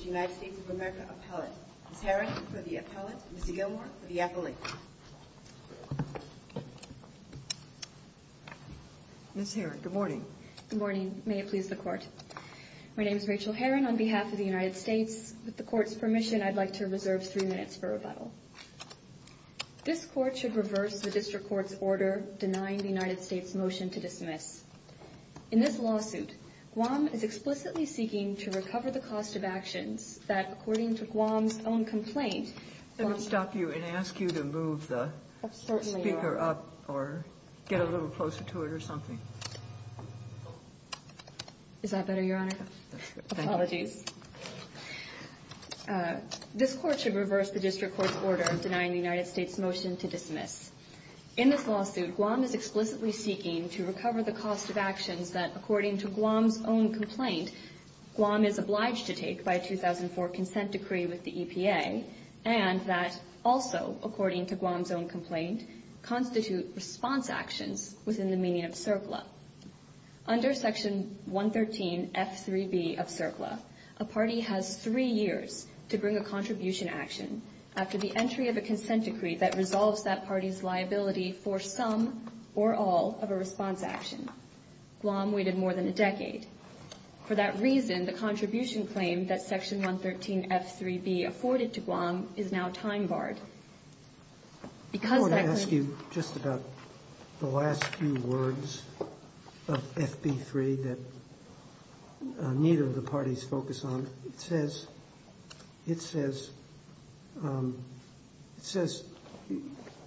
of America Appellate. Ms. Herron for the Appellate, Mr. Gilmour for the Appellate. Ms. Herron, good morning. Good morning. May it please the Court. My name is Rachel Herron on behalf of the United States. With the Court's permission, I'd like to reserve three minutes for rebuttal. This Court should reverse the District Court's order denying the United States motion to dismiss. In this lawsuit, Guam is explicitly seeking to recover the cost of actions that, according to Guam's own complaint... Let me stop you and ask you to move the speaker up or get a little closer to it or something. Is that better, Your Honor? Apologies. This Court should reverse the District Court's order denying the United States motion to dismiss. In this lawsuit, Guam is explicitly seeking to recover the cost of actions that, according to Guam's own complaint, Guam is obliged to take by a 2004 consent decree with the EPA, and that also, according to Guam's own complaint, constitute response actions within the meaning of CERCLA. Under Section 113 F.3.B. of CERCLA, a party has three years to bring a contribution action after the entry of a consent decree that resolves that party's liability for some or all of a response action. Guam waited more than a decade. For that reason, the contribution claim that Section 113 F.3.B. afforded to Guam is now time-barred. Because that claim... I want to ask you just about the last few words of F.B.3 that neither of the parties focus on. It says,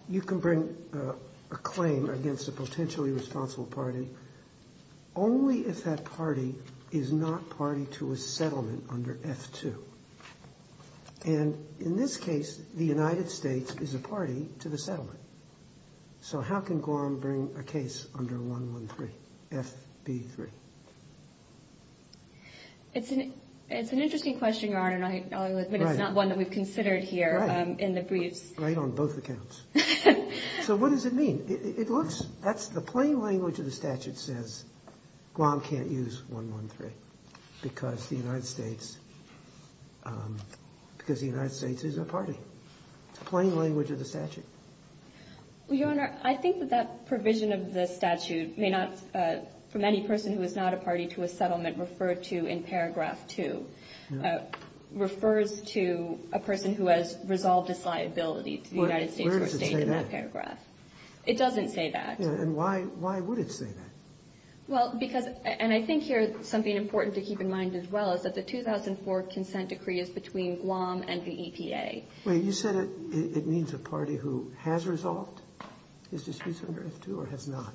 you can bring a claim against a potentially responsible party only if that party is not party to a settlement under F.2. And in this case, the United States is a party to the settlement. So how can Guam bring a case under 113 F.B.3? It's an interesting question, Your Honor, but it's not one that we've considered here in the briefs. Right on both accounts. So what does it mean? It looks... That's the plain language of the statute says Guam can't use 113 because the United States is a party. It's the plain language of the statute. Your Honor, I think that that provision of the statute may not... From any person who is not a party to a settlement referred to in paragraph two refers to a person who has resolved his liability to the United States or state in that paragraph. It doesn't say that. And why would it say that? Well, because... And I think here, something important to keep in mind as well is that the person who has resolved his disputes under F.2 or has not.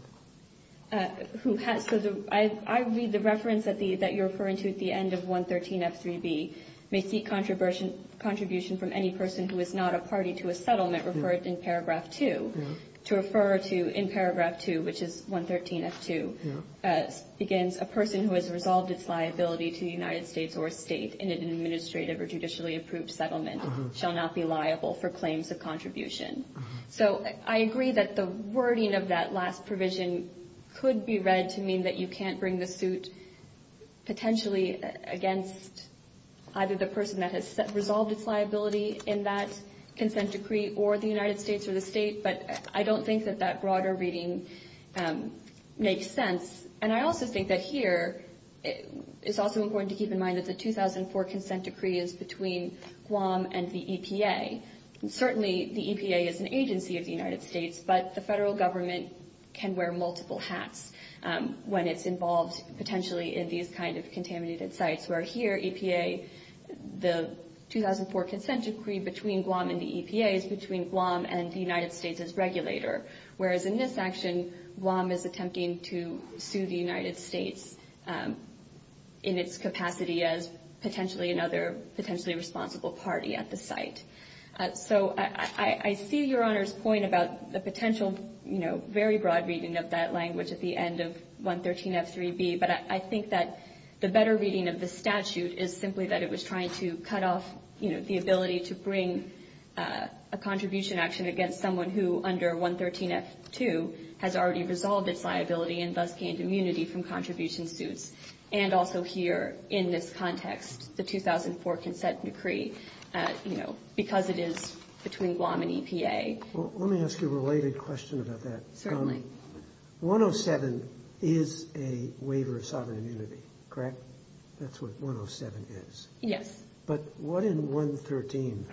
I read the reference that you're referring to at the end of 113 F.3.B. may seek contribution from any person who is not a party to a settlement referred in paragraph two. To refer to in paragraph two, which is 113 F.2, begins a person who has resolved its liability to the United States or state in an administrative or judicially approved settlement shall not be liable for claims of contribution. So I agree that the wording of that last provision could be read to mean that you can't bring the suit potentially against either the person that has resolved its liability in that consent decree or the United States or the state, but I don't think that that broader reading makes sense. And I also think that here, it's also important to keep in mind that the 2004 consent decree is between Guam and the EPA. Certainly, the EPA is an agency of the United States, but the federal government can wear multiple hats when it's involved potentially in these kind of contaminated sites, where here, EPA, the 2004 consent decree between Guam and the EPA is between Guam and the United States as regulator, whereas in this action, Guam is attempting to sue the United States in its capacity as potentially another potentially responsible party at the site. So I see Your Honor's point about the potential, you know, very broad reading of that language at the end of 113 F3B, but I think that the better reading of the statute is simply that it was trying to cut off, you know, the ability to bring a contribution action against someone who, under 113 F2, has already resolved its liability and thus gained immunity from contribution suits. And also here, in this context, the 2004 consent decree, you know, because it is between Guam and EPA. Well, let me ask you a related question about that. Certainly. 107 is a waiver of sovereign immunity, correct? That's what 107 is? Yes. But what in 113?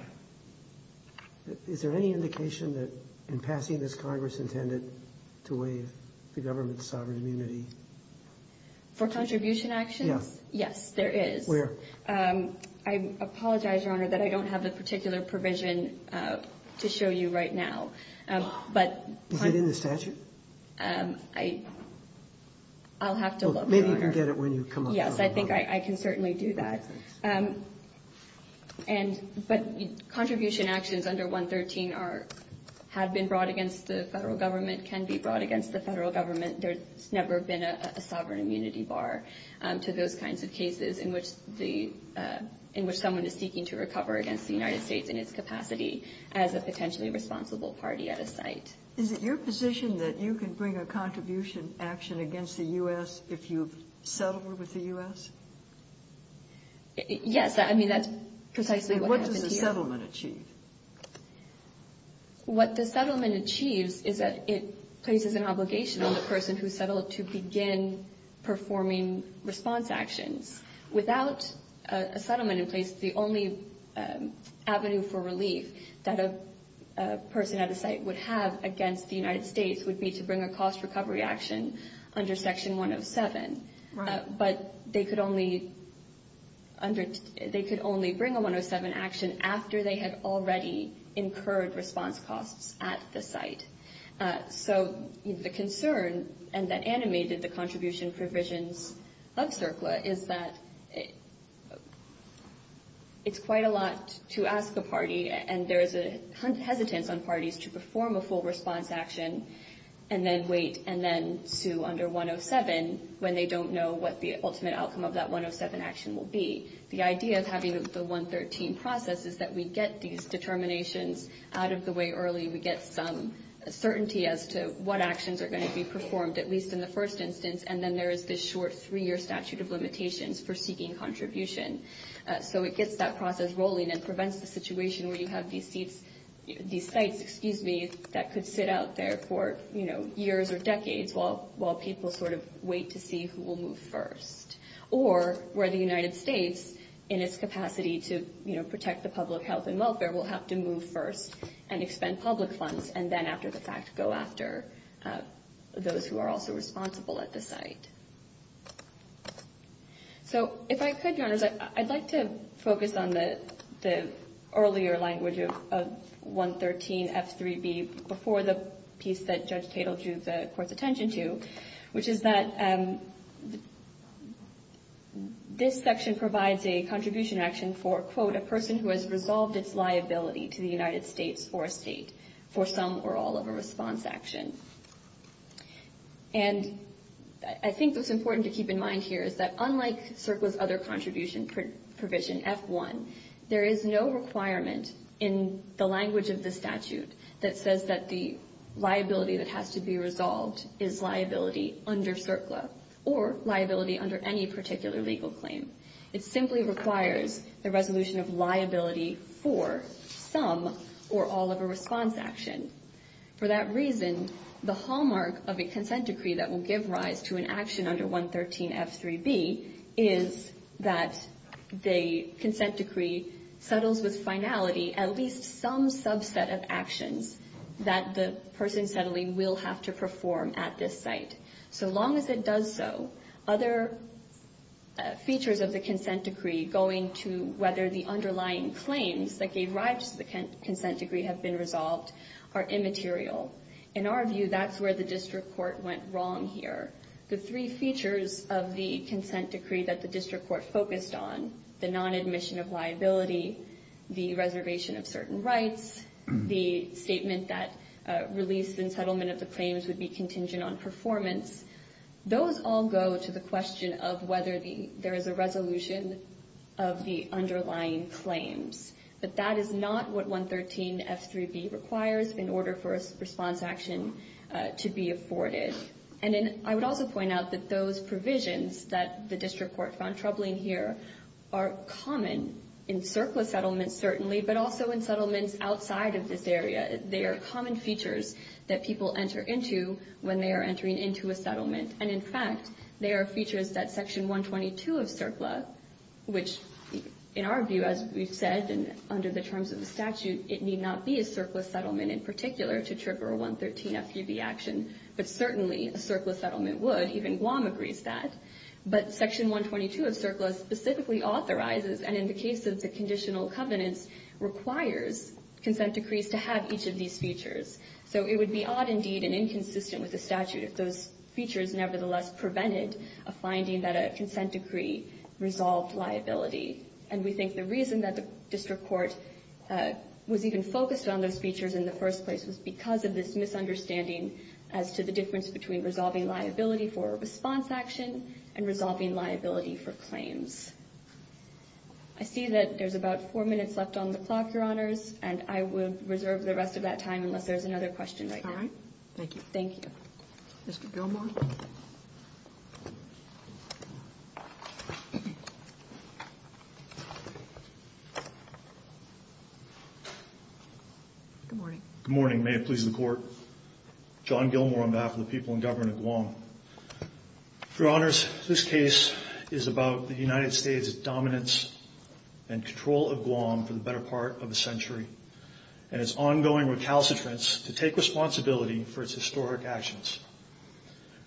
Is there any indication that in passing this Congress intended to waive the government's sovereign immunity? For contribution actions? Yes. Yes, there is. Where? I apologize, Your Honor, that I don't have a particular provision to show you right now. But... Is it in the statute? I'll have to look, Your Honor. Maybe you can get it when you come up with it. Yes, I think I can certainly do that. And, but contribution actions under 113 are, have been brought against the federal government, can be brought against the federal government. There's never been a sovereign immunity bar to those kinds of cases in which the, in which someone is seeking to recover against the United States in its capacity as a potentially responsible party at a site. Is it your position that you can bring a contribution action against the U.S. if you've settled with the U.S.? Yes, I mean, that's precisely what happened here. And what does the settlement achieve? What the settlement achieves is that it places an obligation on the person who settled to begin performing response actions. Without a settlement in place, the only avenue for relief that a person at a site would have against the United States would be to bring a cost recovery action under Section 107. But they could only under, they could only bring a 107 action after they had already incurred response costs at the site. So the concern, and that animated the contribution provisions of CERCLA, is that it's quite a lot to ask a party. And there is a hesitance on parties to perform a full response action and then wait and then sue under 107 when they don't know what the ultimate outcome of that 107 action will be. The idea of having the 113 process is that we get these determinations out of the way early. We get some certainty as to what actions are going to be performed, at least in the first instance. And then there is this short three-year statute of limitations for seeking contribution. So it gets that process rolling and prevents the situation where you have these sites that could sit out there for years or decades while people sort of wait to see who will move first. Or where the United States, in its capacity to protect the public health and welfare, will have to move first and expend public funds and then, after the fact, go after those who are also responsible at the site. So if I could, Your Honors, I'd like to focus on the earlier language of 113F3B before the piece that Judge Tatel drew the Court's attention to, which is that this section provides a contribution action for, quote, a person who has resolved its liability to the United States or a state for some or all of a response action. And I think what's important to keep in mind here is that unlike CERCLA's other contribution provision, F1, there is no requirement in the language of the statute that says that the liability that has to be resolved is liability under CERCLA or liability under any particular legal claim. It simply requires the resolution of liability for some or all of a response action. For that reason, the hallmark of a consent decree that will give rise to an action under 113F3B is that the consent decree settles with finality at least some subset of actions that the person settling will have to perform at this site. So long as it does so, other features of the consent decree going to whether the underlying claims that gave rise to the consent decree have been resolved are immaterial. In our view, that's where the district court went wrong here. The three features of the consent decree that the district court focused on, the non-admission of liability, the reservation of certain rights, the statement that release and settlement of the claims would be contingent on performance. Those all go to the question of whether there is a resolution of the underlying claims. But that is not what 113F3B requires in order for a response action to be afforded. And then I would also point out that those provisions that the district court found troubling here are common in CERCLA settlements certainly, but also in settlements outside of this area. They are common features that people enter into when they are entering into a settlement. And in fact, they are features that Section 122 of CERCLA, which in our view, as we've said, and under the terms of the statute, it need not be a CERCLA settlement in particular to trigger a 113F3B action. But certainly, a CERCLA settlement would. Even Guam agrees that. But Section 122 of CERCLA specifically authorizes, and in the case of the conditional covenants, requires consent decrees to have each of these features. So it would be odd indeed and inconsistent with the statute if those features nevertheless prevented a finding that a consent decree resolved liability. And we think the reason that the district court was even focused on those features in the first place was because of this misunderstanding as to the difference between resolving liability for a response action and resolving liability for claims. I see that there's about four minutes left on the clock, Your Honors. And I will reserve the rest of that time unless there's another question. All right. Thank you. Thank you. Mr. Gilmour. Good morning. Good morning. May it please the court. John Gilmour on behalf of the people in government of Guam. Your Honors, this case is about the United States' dominance and control of Guam for the better part of a century and its ongoing recalcitrance to take responsibility for its historic actions.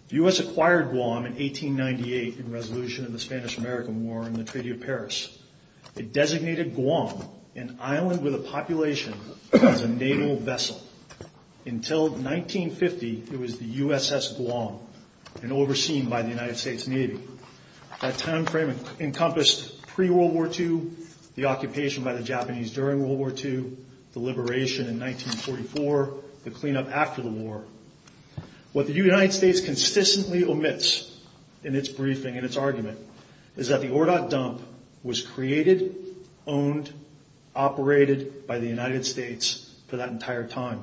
The U.S. acquired Guam in 1898 in resolution of the Spanish-American War and the Treaty of Paris. It designated Guam, an island with a population, as a naval vessel. Until 1950, it was the USS Guam and overseen by the United States Navy. That time frame encompassed pre-World War II, the occupation by the Japanese during World War II, the liberation in 1944, the cleanup after the war. What the United States consistently omits in its briefing and its argument is that the Ordot dump was created, owned, operated by the United States for that entire time.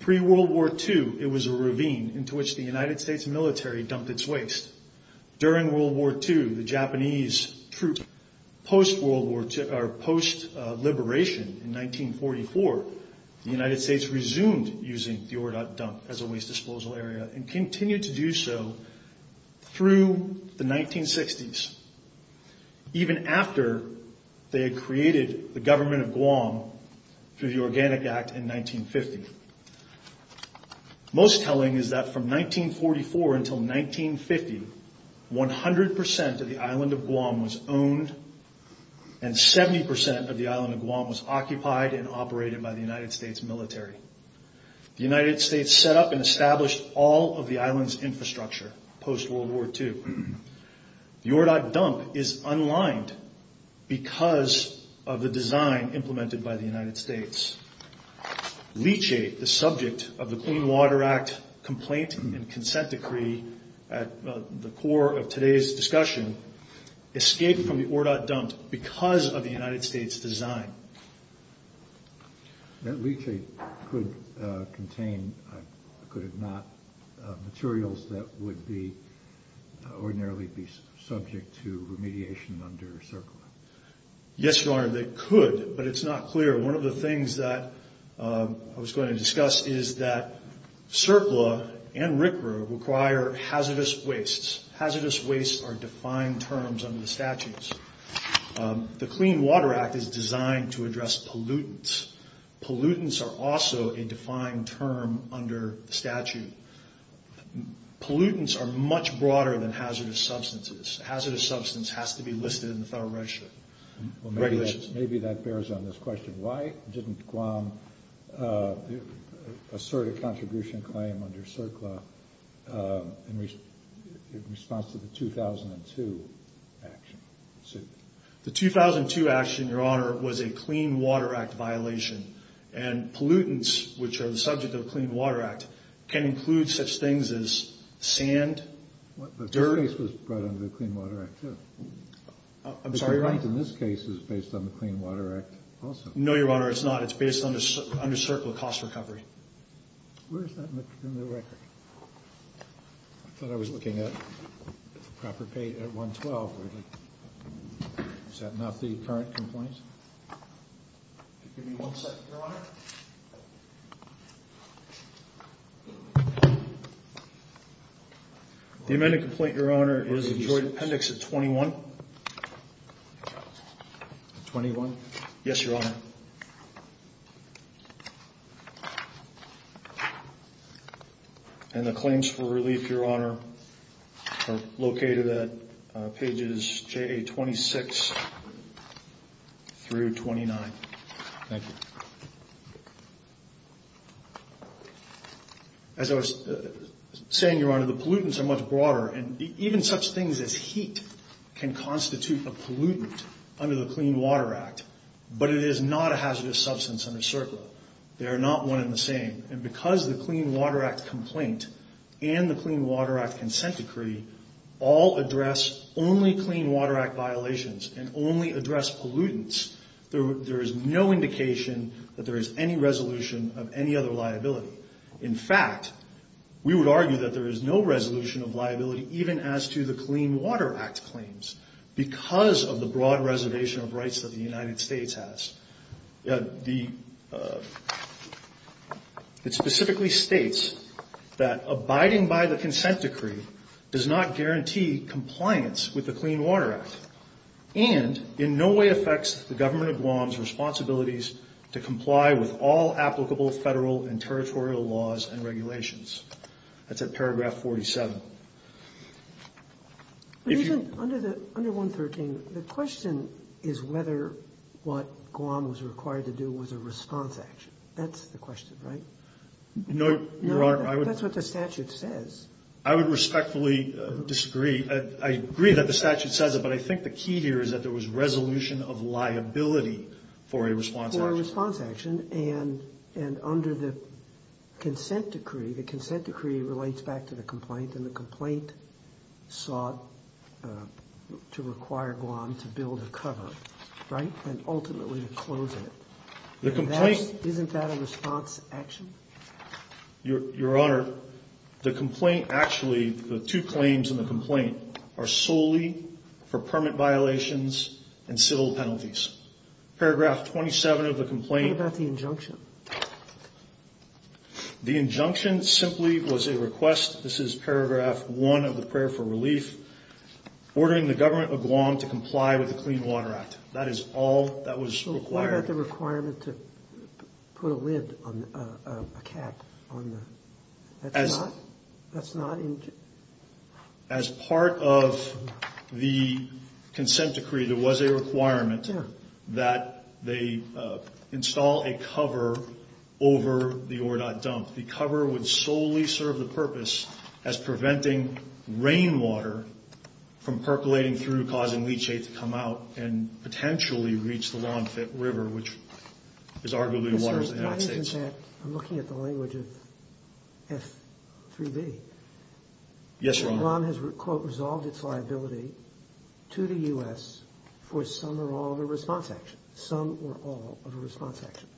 Pre-World War II, it was a ravine into which the United States military dumped its waste. During World War II, the Japanese troops, post-World War II, or post-liberation in 1944, the United States resumed using the Ordot dump as a waste disposal area and continued to do so through the 1960s. Even after they had created the government of Guam through the Organic Act in 1950. Most telling is that from 1944 until 1950, 100% of the island of Guam was owned and 70% of the island of Guam was occupied and operated by the United States military. The United States set up and established all of the island's infrastructure post-World War II. The Ordot dump is unlined because of the design implemented by the United States. Leachate, the subject of the Clean Water Act complaint and consent decree at the core of today's discussion, escaped from the Ordot dump because of the United States design. That leachate could contain, could it not, materials that would ordinarily be subject to remediation under CERCLA? Yes, Your Honor, they could, but it's not clear. One of the things that I was going to discuss is that CERCLA and RCRA require hazardous wastes. Hazardous wastes are defined terms under the statutes. The Clean Water Act is designed to address pollutants. Pollutants are also a defined term under the statute. Pollutants are much broader than hazardous substances. Hazardous substance has to be listed in the Federal Register. Maybe that bears on this question. Why didn't Guam assert a contribution claim under CERCLA in response to the 2002 action? The 2002 action, Your Honor, was a Clean Water Act violation. And pollutants, which are the subject of the Clean Water Act, can include such things as sand, dirt. But this case was brought under the Clean Water Act, too. I'm sorry, Your Honor? The complaint in this case is based on the Clean Water Act also. No, Your Honor, it's not. It's based under CERCLA cost recovery. Where is that in the record? I thought I was looking at the proper page at 112. Is that not the current complaint? Give me one second, Your Honor. The amended complaint, Your Honor, is in Joint Appendix 21. 21? Yes, Your Honor. And the claims for relief, Your Honor, are located at pages JA-26 through 29. Thank you. As I was saying, Your Honor, the pollutants are much broader. And even such things as heat can constitute a pollutant under the Clean Water Act. But it is not a hazardous substance under CERCLA. They are not one and the same. And because the Clean Water Act complaint and the Clean Water Act consent decree all address only Clean Water Act violations and only address pollutants, there is no indication that there is any resolution of any other liability. In fact, we would argue that there is no resolution of liability even as to the Clean Water Act claims because of the broad reservation of rights that the United States has. It specifically states that abiding by the consent decree does not guarantee compliance with the Clean Water Act and in no way affects the government of Guam's responsibilities to comply with all applicable federal and territorial laws and regulations. That's at paragraph 47. Under 113, the question is whether what Guam was required to do was a response action. That's the question, right? No, Your Honor. That's what the statute says. I would respectfully disagree. I agree that the statute says it, but I think the key here is that there was resolution of liability for a response action. And under the consent decree, the consent decree relates back to the complaint, and the complaint sought to require Guam to build a cover, right, and ultimately to close it. Isn't that a response action? Your Honor, the complaint actually, the two claims in the complaint are solely for permit violations and civil penalties. Paragraph 27 of the complaint. What about the injunction? The injunction simply was a request, this is paragraph 1 of the prayer for relief, ordering the government of Guam to comply with the Clean Water Act. That is all that was required. What about the requirement to put a lid on a cap? That's not injunctioned. As part of the consent decree, there was a requirement that they install a cover over the Ordot dump. The cover would solely serve the purpose as preventing rainwater from percolating through, causing leachate to come out and potentially reach the Lawn Fit River, which is arguably the water of the United States. I'm looking at the language of F3B. Yes, Your Honor. Guam has, quote, resolved its liability to the U.S. for some or all of a response action. Some or all of a response action.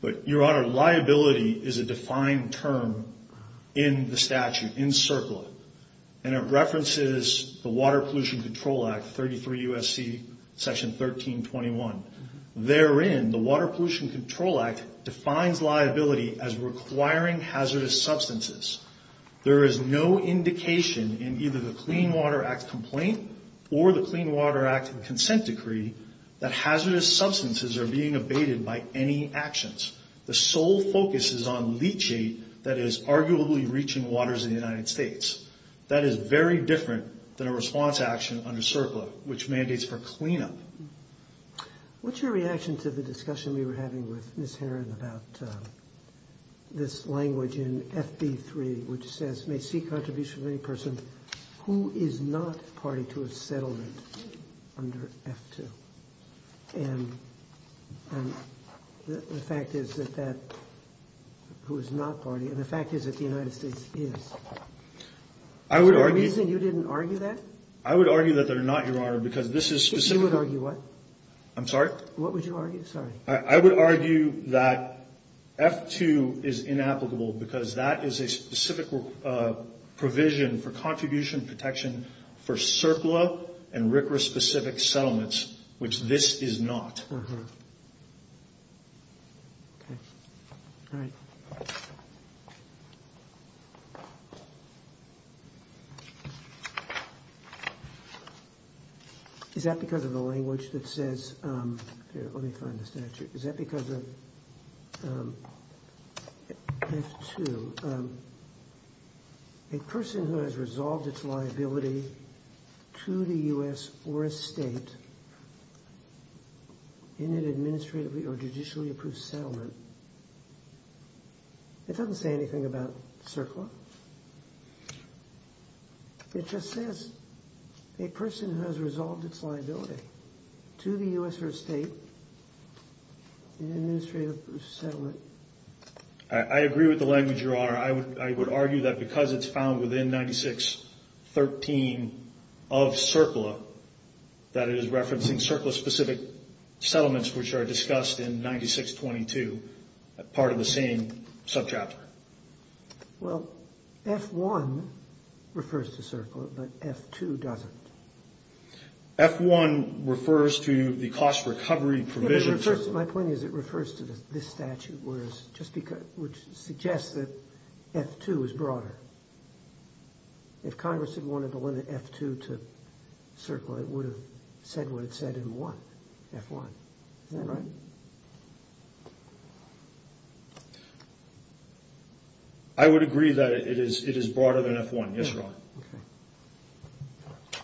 But, Your Honor, liability is a defined term in the statute, in CERCLA, and it references the Water Pollution Control Act, 33 U.S.C. section 1321. Therein, the Water Pollution Control Act defines liability as requiring hazardous substances. There is no indication in either the Clean Water Act complaint or the Clean Water Act consent decree that hazardous substances are being abated by any actions. The sole focus is on leachate that is arguably reaching waters in the United States. That is very different than a response action under CERCLA, which mandates for cleanup. What's your reaction to the discussion we were having with Ms. Herron about this language in FB3, which says, may seek contribution of any person who is not party to a settlement under F2? And the fact is that that who is not party, and the fact is that the United States is. Is there a reason you didn't argue that? I would argue that there are not, Your Honor, because this is specific. You would argue what? I'm sorry? What would you argue? Sorry. I would argue that F2 is inapplicable because that is a specific provision for contribution protection for CERCLA and RCRA-specific settlements, which this is not. Okay. All right. Is that because of the language that says—here, let me find the statute. Is that because of F2? A person who has resolved its liability to the U.S. or a state in an administrative or judicially approved settlement. It doesn't say anything about CERCLA. It just says a person who has resolved its liability to the U.S. or state in an administrative approved settlement. I agree with the language, Your Honor. I would argue that because it's found within 9613 of CERCLA, that it is referencing CERCLA-specific settlements, which are discussed in 9622, part of the same subchapter. Well, F1 refers to CERCLA, but F2 doesn't. F1 refers to the cost recovery provision. My point is it refers to this statute, which suggests that F2 is broader. If Congress had wanted to limit F2 to CERCLA, it would have said what it said in F1. Is that right? I would agree that it is broader than F1, yes, Your Honor. Okay.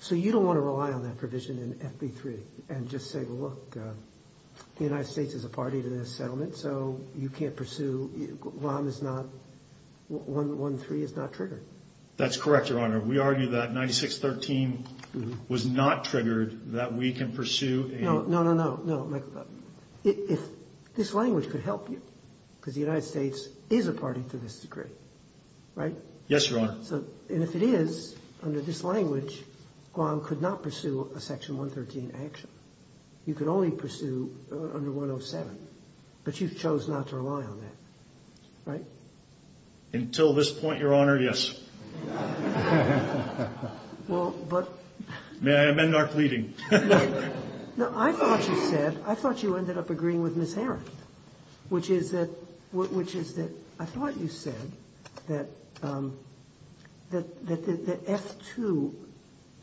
So you don't want to rely on that provision in FB3 and just say, well, look, the United States is a party to this settlement, so you can't pursue—LOM is not—113 is not triggered. That's correct, Your Honor. We argue that 9613 was not triggered, that we can pursue a— No, no, no, no. If this language could help you, because the United States is a party to this decree, right? Yes, Your Honor. And if it is, under this language, Guam could not pursue a Section 113 action. You could only pursue under 107. But you chose not to rely on that, right? Until this point, Your Honor, yes. Well, but— May I amend our pleading? No. No, I thought you said, I thought you ended up agreeing with Ms. Haran, which is that I thought you said that F2,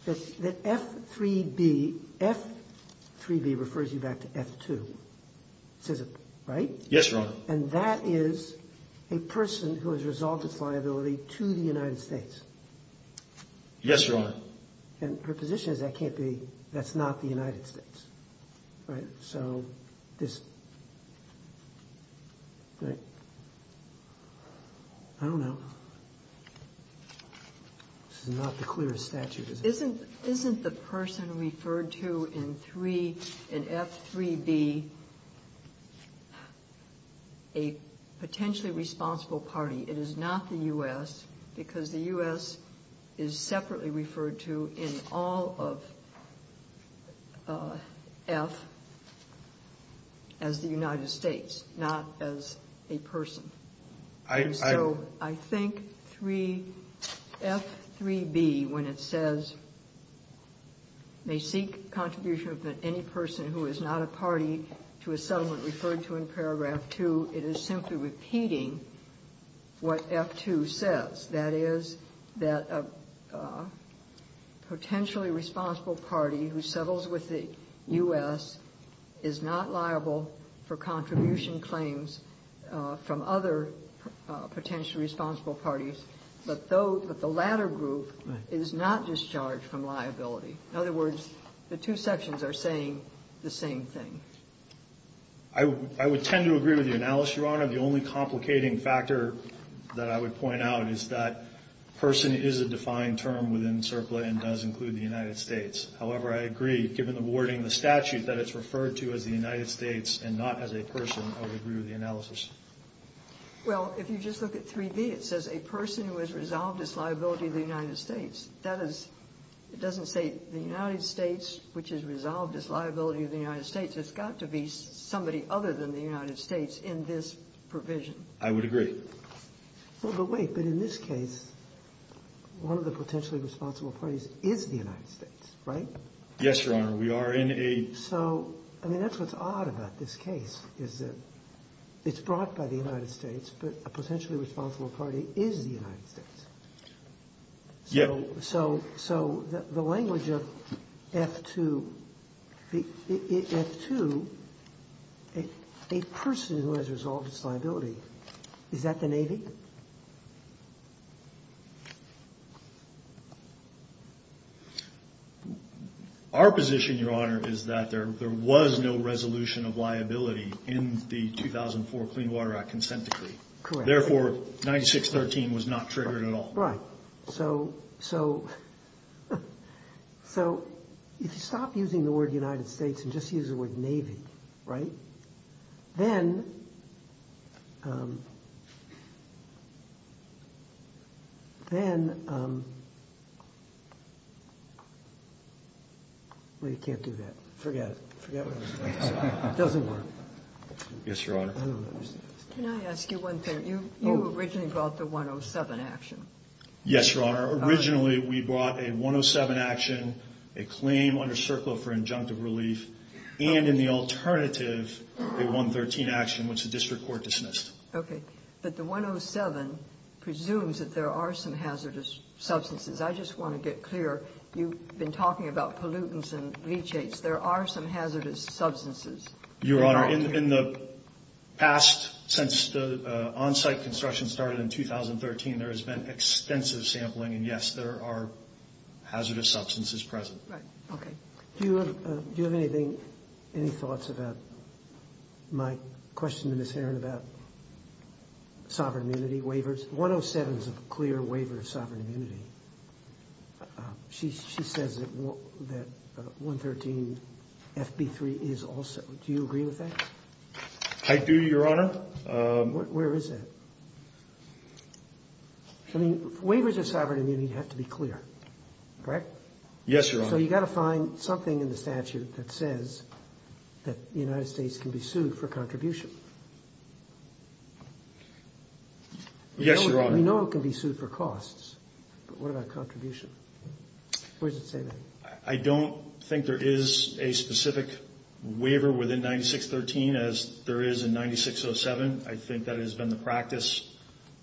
that F3B, F3B refers you back to F2, right? Yes, Your Honor. And that is a person who has resolved its liability to the United States. Yes, Your Honor. And her position is that can't be—that's not the United States, right? So this—right? I don't know. This is not the clearest statute, is it? Isn't the person referred to in F3B a potentially responsible party? It is not the U.S., because the U.S. is separately referred to in all of F as the United States, not as a person. So I think F3B, when it says, may seek contribution of any person who is not a party referred to in paragraph 2, it is simply repeating what F2 says. That is, that a potentially responsible party who settles with the U.S. is not liable for contribution claims from other potentially responsible parties, but the latter group is not discharged from liability. In other words, the two sections are saying the same thing. I would tend to agree with the analysis, Your Honor. The only complicating factor that I would point out is that person is a defined term within CERCLA and does include the United States. However, I agree, given the wording of the statute, that it's referred to as the United States and not as a person, I would agree with the analysis. Well, if you just look at 3B, it says a person who has resolved its liability to the United States. That is—it doesn't say the United States, which has resolved its liability to the United States. It's got to be somebody other than the United States in this provision. I would agree. Well, but wait. But in this case, one of the potentially responsible parties is the United States, right? Yes, Your Honor. We are in a— So, I mean, that's what's odd about this case, is that it's brought by the United States, but a potentially responsible party is the United States. Yes. So the language of F2, F2, a person who has resolved its liability, is that the Navy? Our position, Your Honor, is that there was no resolution of liability in the 2004 Clean Water Act consent decree. Correct. Therefore, 9613 was not triggered at all. Right. So if you stop using the word United States and just use the word Navy, right? Then—well, you can't do that. Forget it. Forget what I was going to say. It doesn't work. Yes, Your Honor. I don't understand. Can I ask you one thing? You originally brought the 107 action. Yes, Your Honor. Originally, we brought a 107 action, a claim under CERCLA for injunctive relief, and in the alternative, a 113 action, which the district court dismissed. Okay. But the 107 presumes that there are some hazardous substances. I just want to get clear. You've been talking about pollutants and leachates. There are some hazardous substances. Your Honor, in the past, since the on-site construction started in 2013, there has been extensive sampling, and, yes, there are hazardous substances present. Right. Okay. Do you have anything, any thoughts about my question to Ms. Herron about sovereign immunity waivers? 107 is a clear waiver of sovereign immunity. She says that 113 FB3 is also. Do you agree with that? I do, Your Honor. Where is it? I mean, waivers of sovereign immunity have to be clear, correct? Yes, Your Honor. So you've got to find something in the statute that says that the United States can be sued for contribution. Yes, Your Honor. We know it can be sued for costs, but what about contribution? Where does it say that? I don't think there is a specific waiver within 9613 as there is in 9607. I think that has been the practice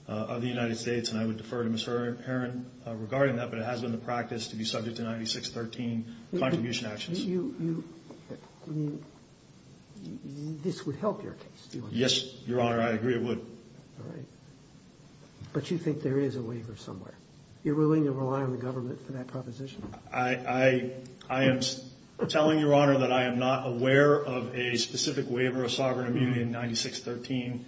of the United States, and I would defer to Ms. Herron regarding that, but it has been the practice to be subject to 9613 contribution actions. This would help your case, do you think? Yes, Your Honor. I agree it would. All right. But you think there is a waiver somewhere. You're willing to rely on the government for that proposition? I am telling Your Honor that I am not aware of a specific waiver of sovereign immunity in 9613,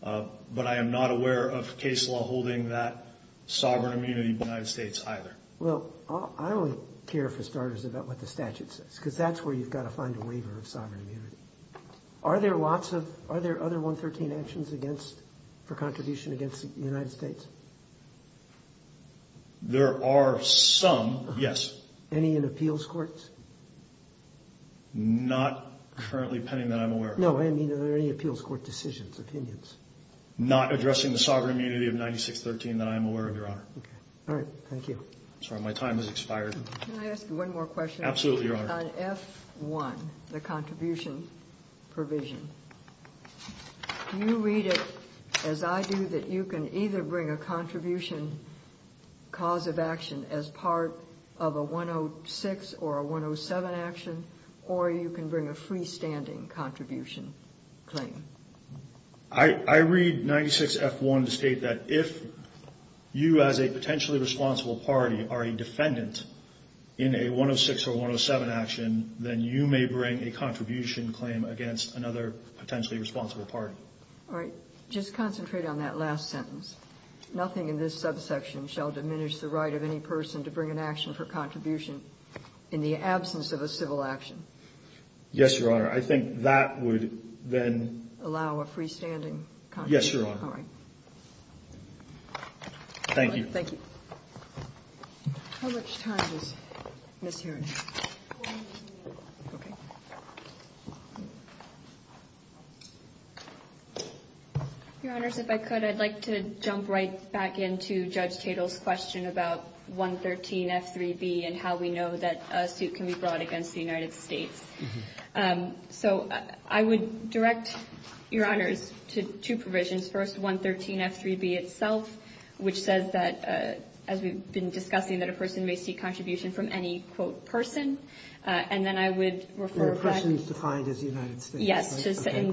but I am not aware of case law holding that sovereign immunity in the United States either. Well, I only care for starters about what the statute says because that's where you've got to find a waiver of sovereign immunity. Are there lots of other 113 actions for contribution against the United States? There are some, yes. Any in appeals courts? Not currently pending that I'm aware of. No, I mean are there any appeals court decisions, opinions? Not addressing the sovereign immunity of 9613 that I am aware of, Your Honor. All right. Thank you. Sorry, my time has expired. Can I ask you one more question? Absolutely, Your Honor. On F1, the contribution provision, do you read it as I do that you can either bring a contribution cause of action as part of a 106 or a 107 action, or you can bring a freestanding contribution claim? I read 96F1 to state that if you as a potentially responsible party are a defendant in a 106 or 107 action, then you may bring a contribution claim against another potentially responsible party. All right. Just concentrate on that last sentence. Nothing in this subsection shall diminish the right of any person to bring an action for contribution in the absence of a civil action. Yes, Your Honor. I think that would then allow a freestanding contribution. Yes, Your Honor. All right. Thank you. Thank you. How much time is miss hearing? One minute. Okay. Your Honors, if I could, I'd like to jump right back into Judge Tatel's question about 113F3B and how we know that a suit can be brought against the United States. So I would direct, Your Honors, to two provisions. First, 113F3B itself, which says that, as we've been discussing, that a person may seek contribution from any, quote, person. And then I would refer back to the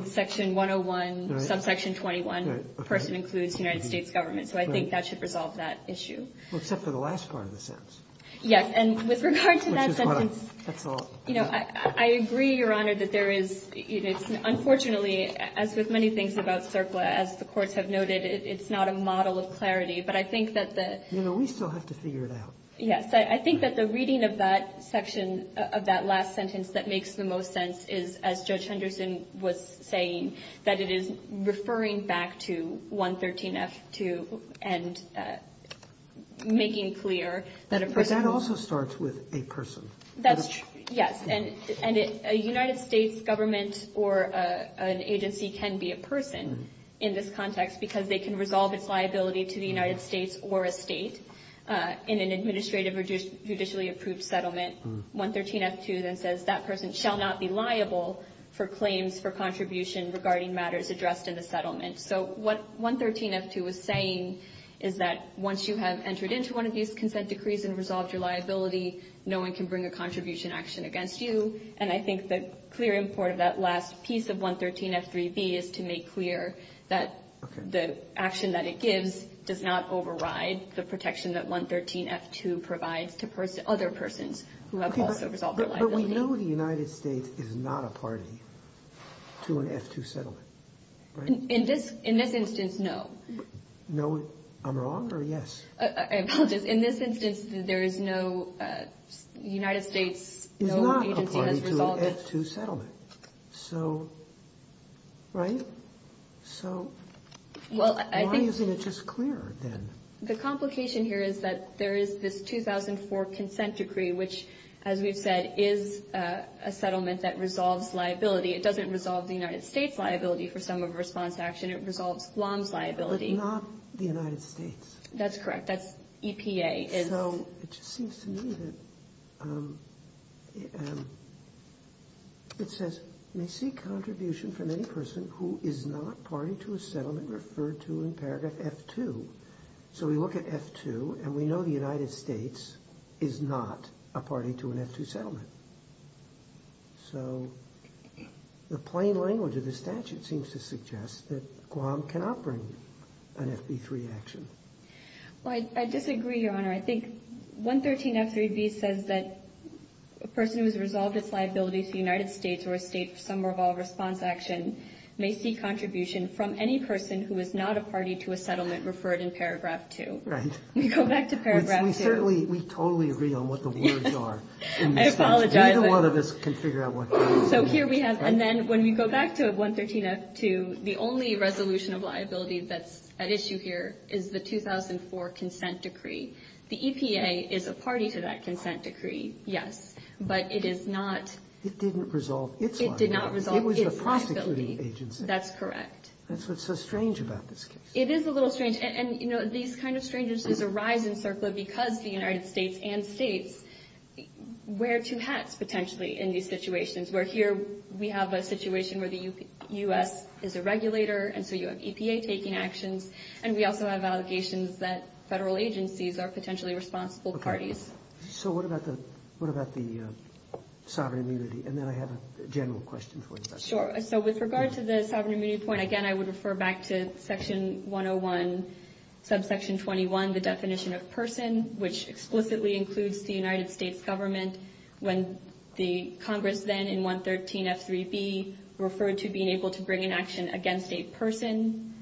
section 101, subsection 21, person includes United States government. So I think that should resolve that issue. Well, except for the last part of the sentence. Yes. And with regard to that sentence, you know, I agree, Your Honor, that there is unfortunately, as with many things about CERCLA, as the courts have noted, it's not a model of clarity. But I think that the You know, we still have to figure it out. Yes. I think that the reading of that section, of that last sentence, that makes the most sense is, as Judge Henderson was saying, that it is referring back to 113F2 and making clear that a person But that also starts with a person. That's true. Yes. And a United States government or an agency can be a person in this context because they can resolve its liability to the United States or a state in an administrative or judicially approved settlement. 113F2 then says that person shall not be liable for claims for contribution regarding matters addressed in the settlement. So what 113F2 is saying is that once you have entered into one of these consent decrees and resolved your liability, no one can bring a contribution action against you. And I think the clear import of that last piece of 113F3B is to make clear that the action that it gives does not override the protection that 113F2 provides to other persons who have also resolved their liability. But we know the United States is not a party to an F2 settlement, right? In this instance, no. No. I'm wrong or yes? I apologize. In this instance, there is no United States, no agency has resolved Is not a party to an F2 settlement. So, right? So, why isn't it just clear then? The complication here is that there is this 2004 consent decree, which, as we've said, is a settlement that resolves liability. It doesn't resolve the United States' liability for some of the response action. It resolves Guam's liability. But not the United States. That's correct. That's EPA. So it just seems to me that it says may seek contribution from any person who is not referred to in paragraph F2. So we look at F2, and we know the United States is not a party to an F2 settlement. So the plain language of the statute seems to suggest that Guam cannot bring an FB3 action. Well, I disagree, Your Honor. I think 113F3B says that a person who has resolved its liability to the United may seek contribution from any person who is not a party to a settlement referred in paragraph 2. Right. We go back to paragraph 2. We certainly, we totally agree on what the words are. I apologize. Neither one of us can figure out what the words are. So here we have, and then when we go back to 113F2, the only resolution of liability that's at issue here is the 2004 consent decree. The EPA is a party to that consent decree. Yes. But it is not. It didn't resolve its liability. It did not resolve its liability. It was the prosecuting agency. That's correct. That's what's so strange about this case. It is a little strange. And, you know, these kind of strange instances arise in CERCLA because the United States and states wear two hats, potentially, in these situations, where here we have a situation where the U.S. is a regulator, and so you have EPA taking actions, and we also have allegations that federal agencies are potentially responsible parties. So what about the sovereign immunity? And then I have a general question for you. Sure. So with regard to the sovereign immunity point, again, I would refer back to Section 101, Subsection 21, the definition of person, which explicitly includes the United States government, when the Congress then, in 113F3B, referred to being able to bring an action against a person.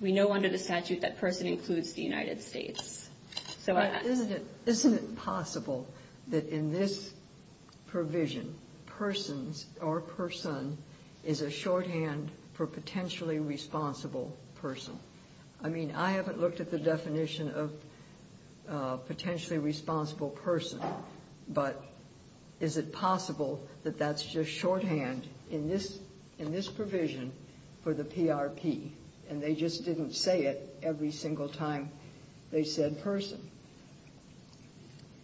We know under the statute that person includes the United States. Isn't it possible that in this provision, persons or person is a shorthand for potentially responsible person? I mean, I haven't looked at the definition of potentially responsible person, but is it possible that that's just shorthand in this provision for the PRP, and they just didn't say it every single time they said person?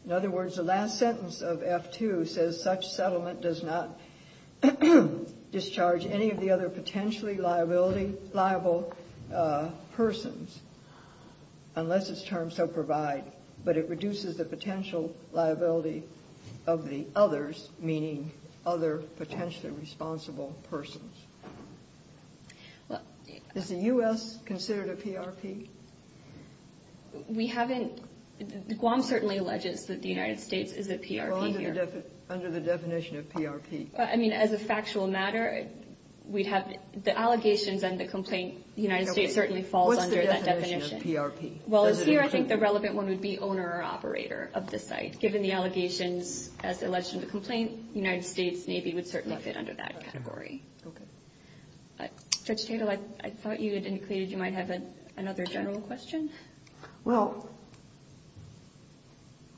In other words, the last sentence of F2 says, such settlement does not discharge any of the other potentially liable persons, unless its terms so provide, but it reduces the potential liability of the others, meaning other potentially responsible persons. Is the U.S. considered a PRP? We haven't. Guam certainly alleges that the United States is a PRP here. Well, under the definition of PRP. I mean, as a factual matter, we'd have the allegations and the complaint. The United States certainly falls under that definition. What's the definition of PRP? Well, here I think the relevant one would be owner or operator of the site. Given the allegations as alleged in the complaint, the United States Navy would certainly fit under that category. Okay. Judge Tatel, I thought you had indicated you might have another general question. Well,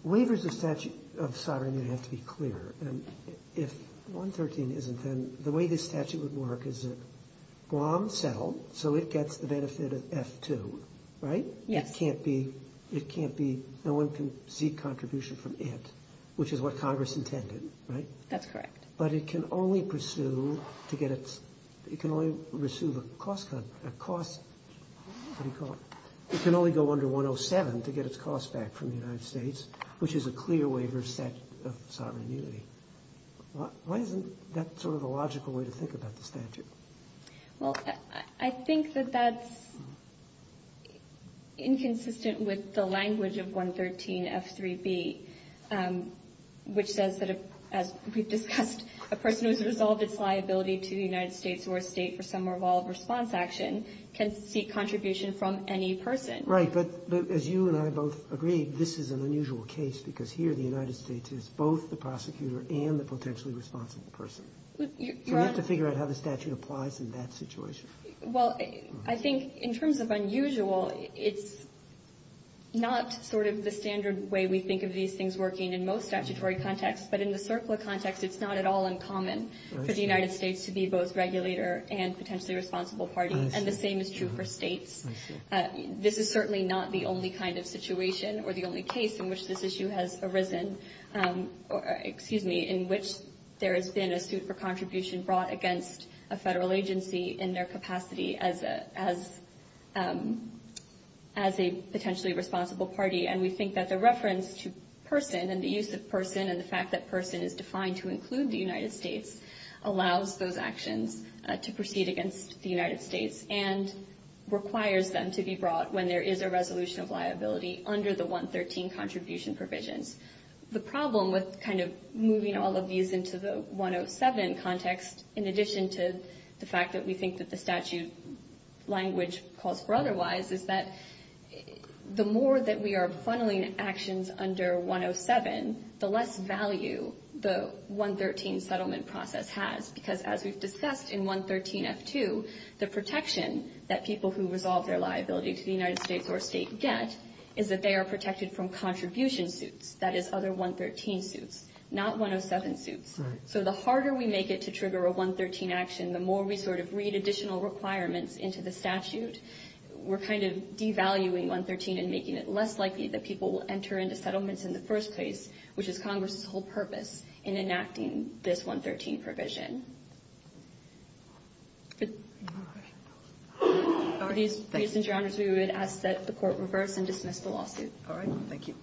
waivers of statute of sovereignty have to be clear, and if 113 isn't, then the way this statute would work is that Guam settled, so it gets the benefit of F2, right? Yes. It can't be no one can seek contribution from it, which is what Congress intended, right? That's correct. But it can only pursue to get its, it can only pursue the cost, what do you call it? It can only go under 107 to get its cost back from the United States, which is a clear waiver set of sovereign immunity. Why isn't that sort of a logical way to think about the statute? Well, I think that that's inconsistent with the language of 113 F3B, which says that, as we've discussed, a person who has resolved its liability to the United States or a State for some or all of response action can seek contribution from any person. Right. But as you and I both agree, this is an unusual case, because here the United States is both the prosecutor and the potentially responsible person. You have to figure out how the statute applies in that situation. Well, I think in terms of unusual, it's not sort of the standard way we think of these things working in most statutory contexts. But in the CERCLA context, it's not at all uncommon for the United States to be both regulator and potentially responsible party. I see. And the same is true for States. I see. This is certainly not the only kind of situation or the only case in which this issue has arisen, excuse me, in which there has been a suit for contribution brought against a federal agency in their capacity as a potentially responsible party. And we think that the reference to person and the use of person and the fact that person is defined to include the United States allows those actions to proceed against the United States and requires them to be brought when there is a resolution of liability under the 113 contribution provisions. The problem with kind of moving all of these into the 107 context, in addition to the fact that we think that the statute language calls for otherwise, is that the more that we are funneling actions under 107, the less value the 113 settlement process has. Because as we've discussed in 113F2, the protection that people who resolve their liability to the United States or State get is that they are protected from contribution suits, that is other 113 suits, not 107 suits. So the harder we make it to trigger a 113 action, the more we sort of read additional requirements into the statute. We're kind of devaluing 113 and making it less likely that people will enter into settlements in the first place, which is Congress's whole purpose in enacting this 113 provision. For these reasons, Your Honors, we would ask that the court reverse and dismiss the lawsuit. All right. Thank you.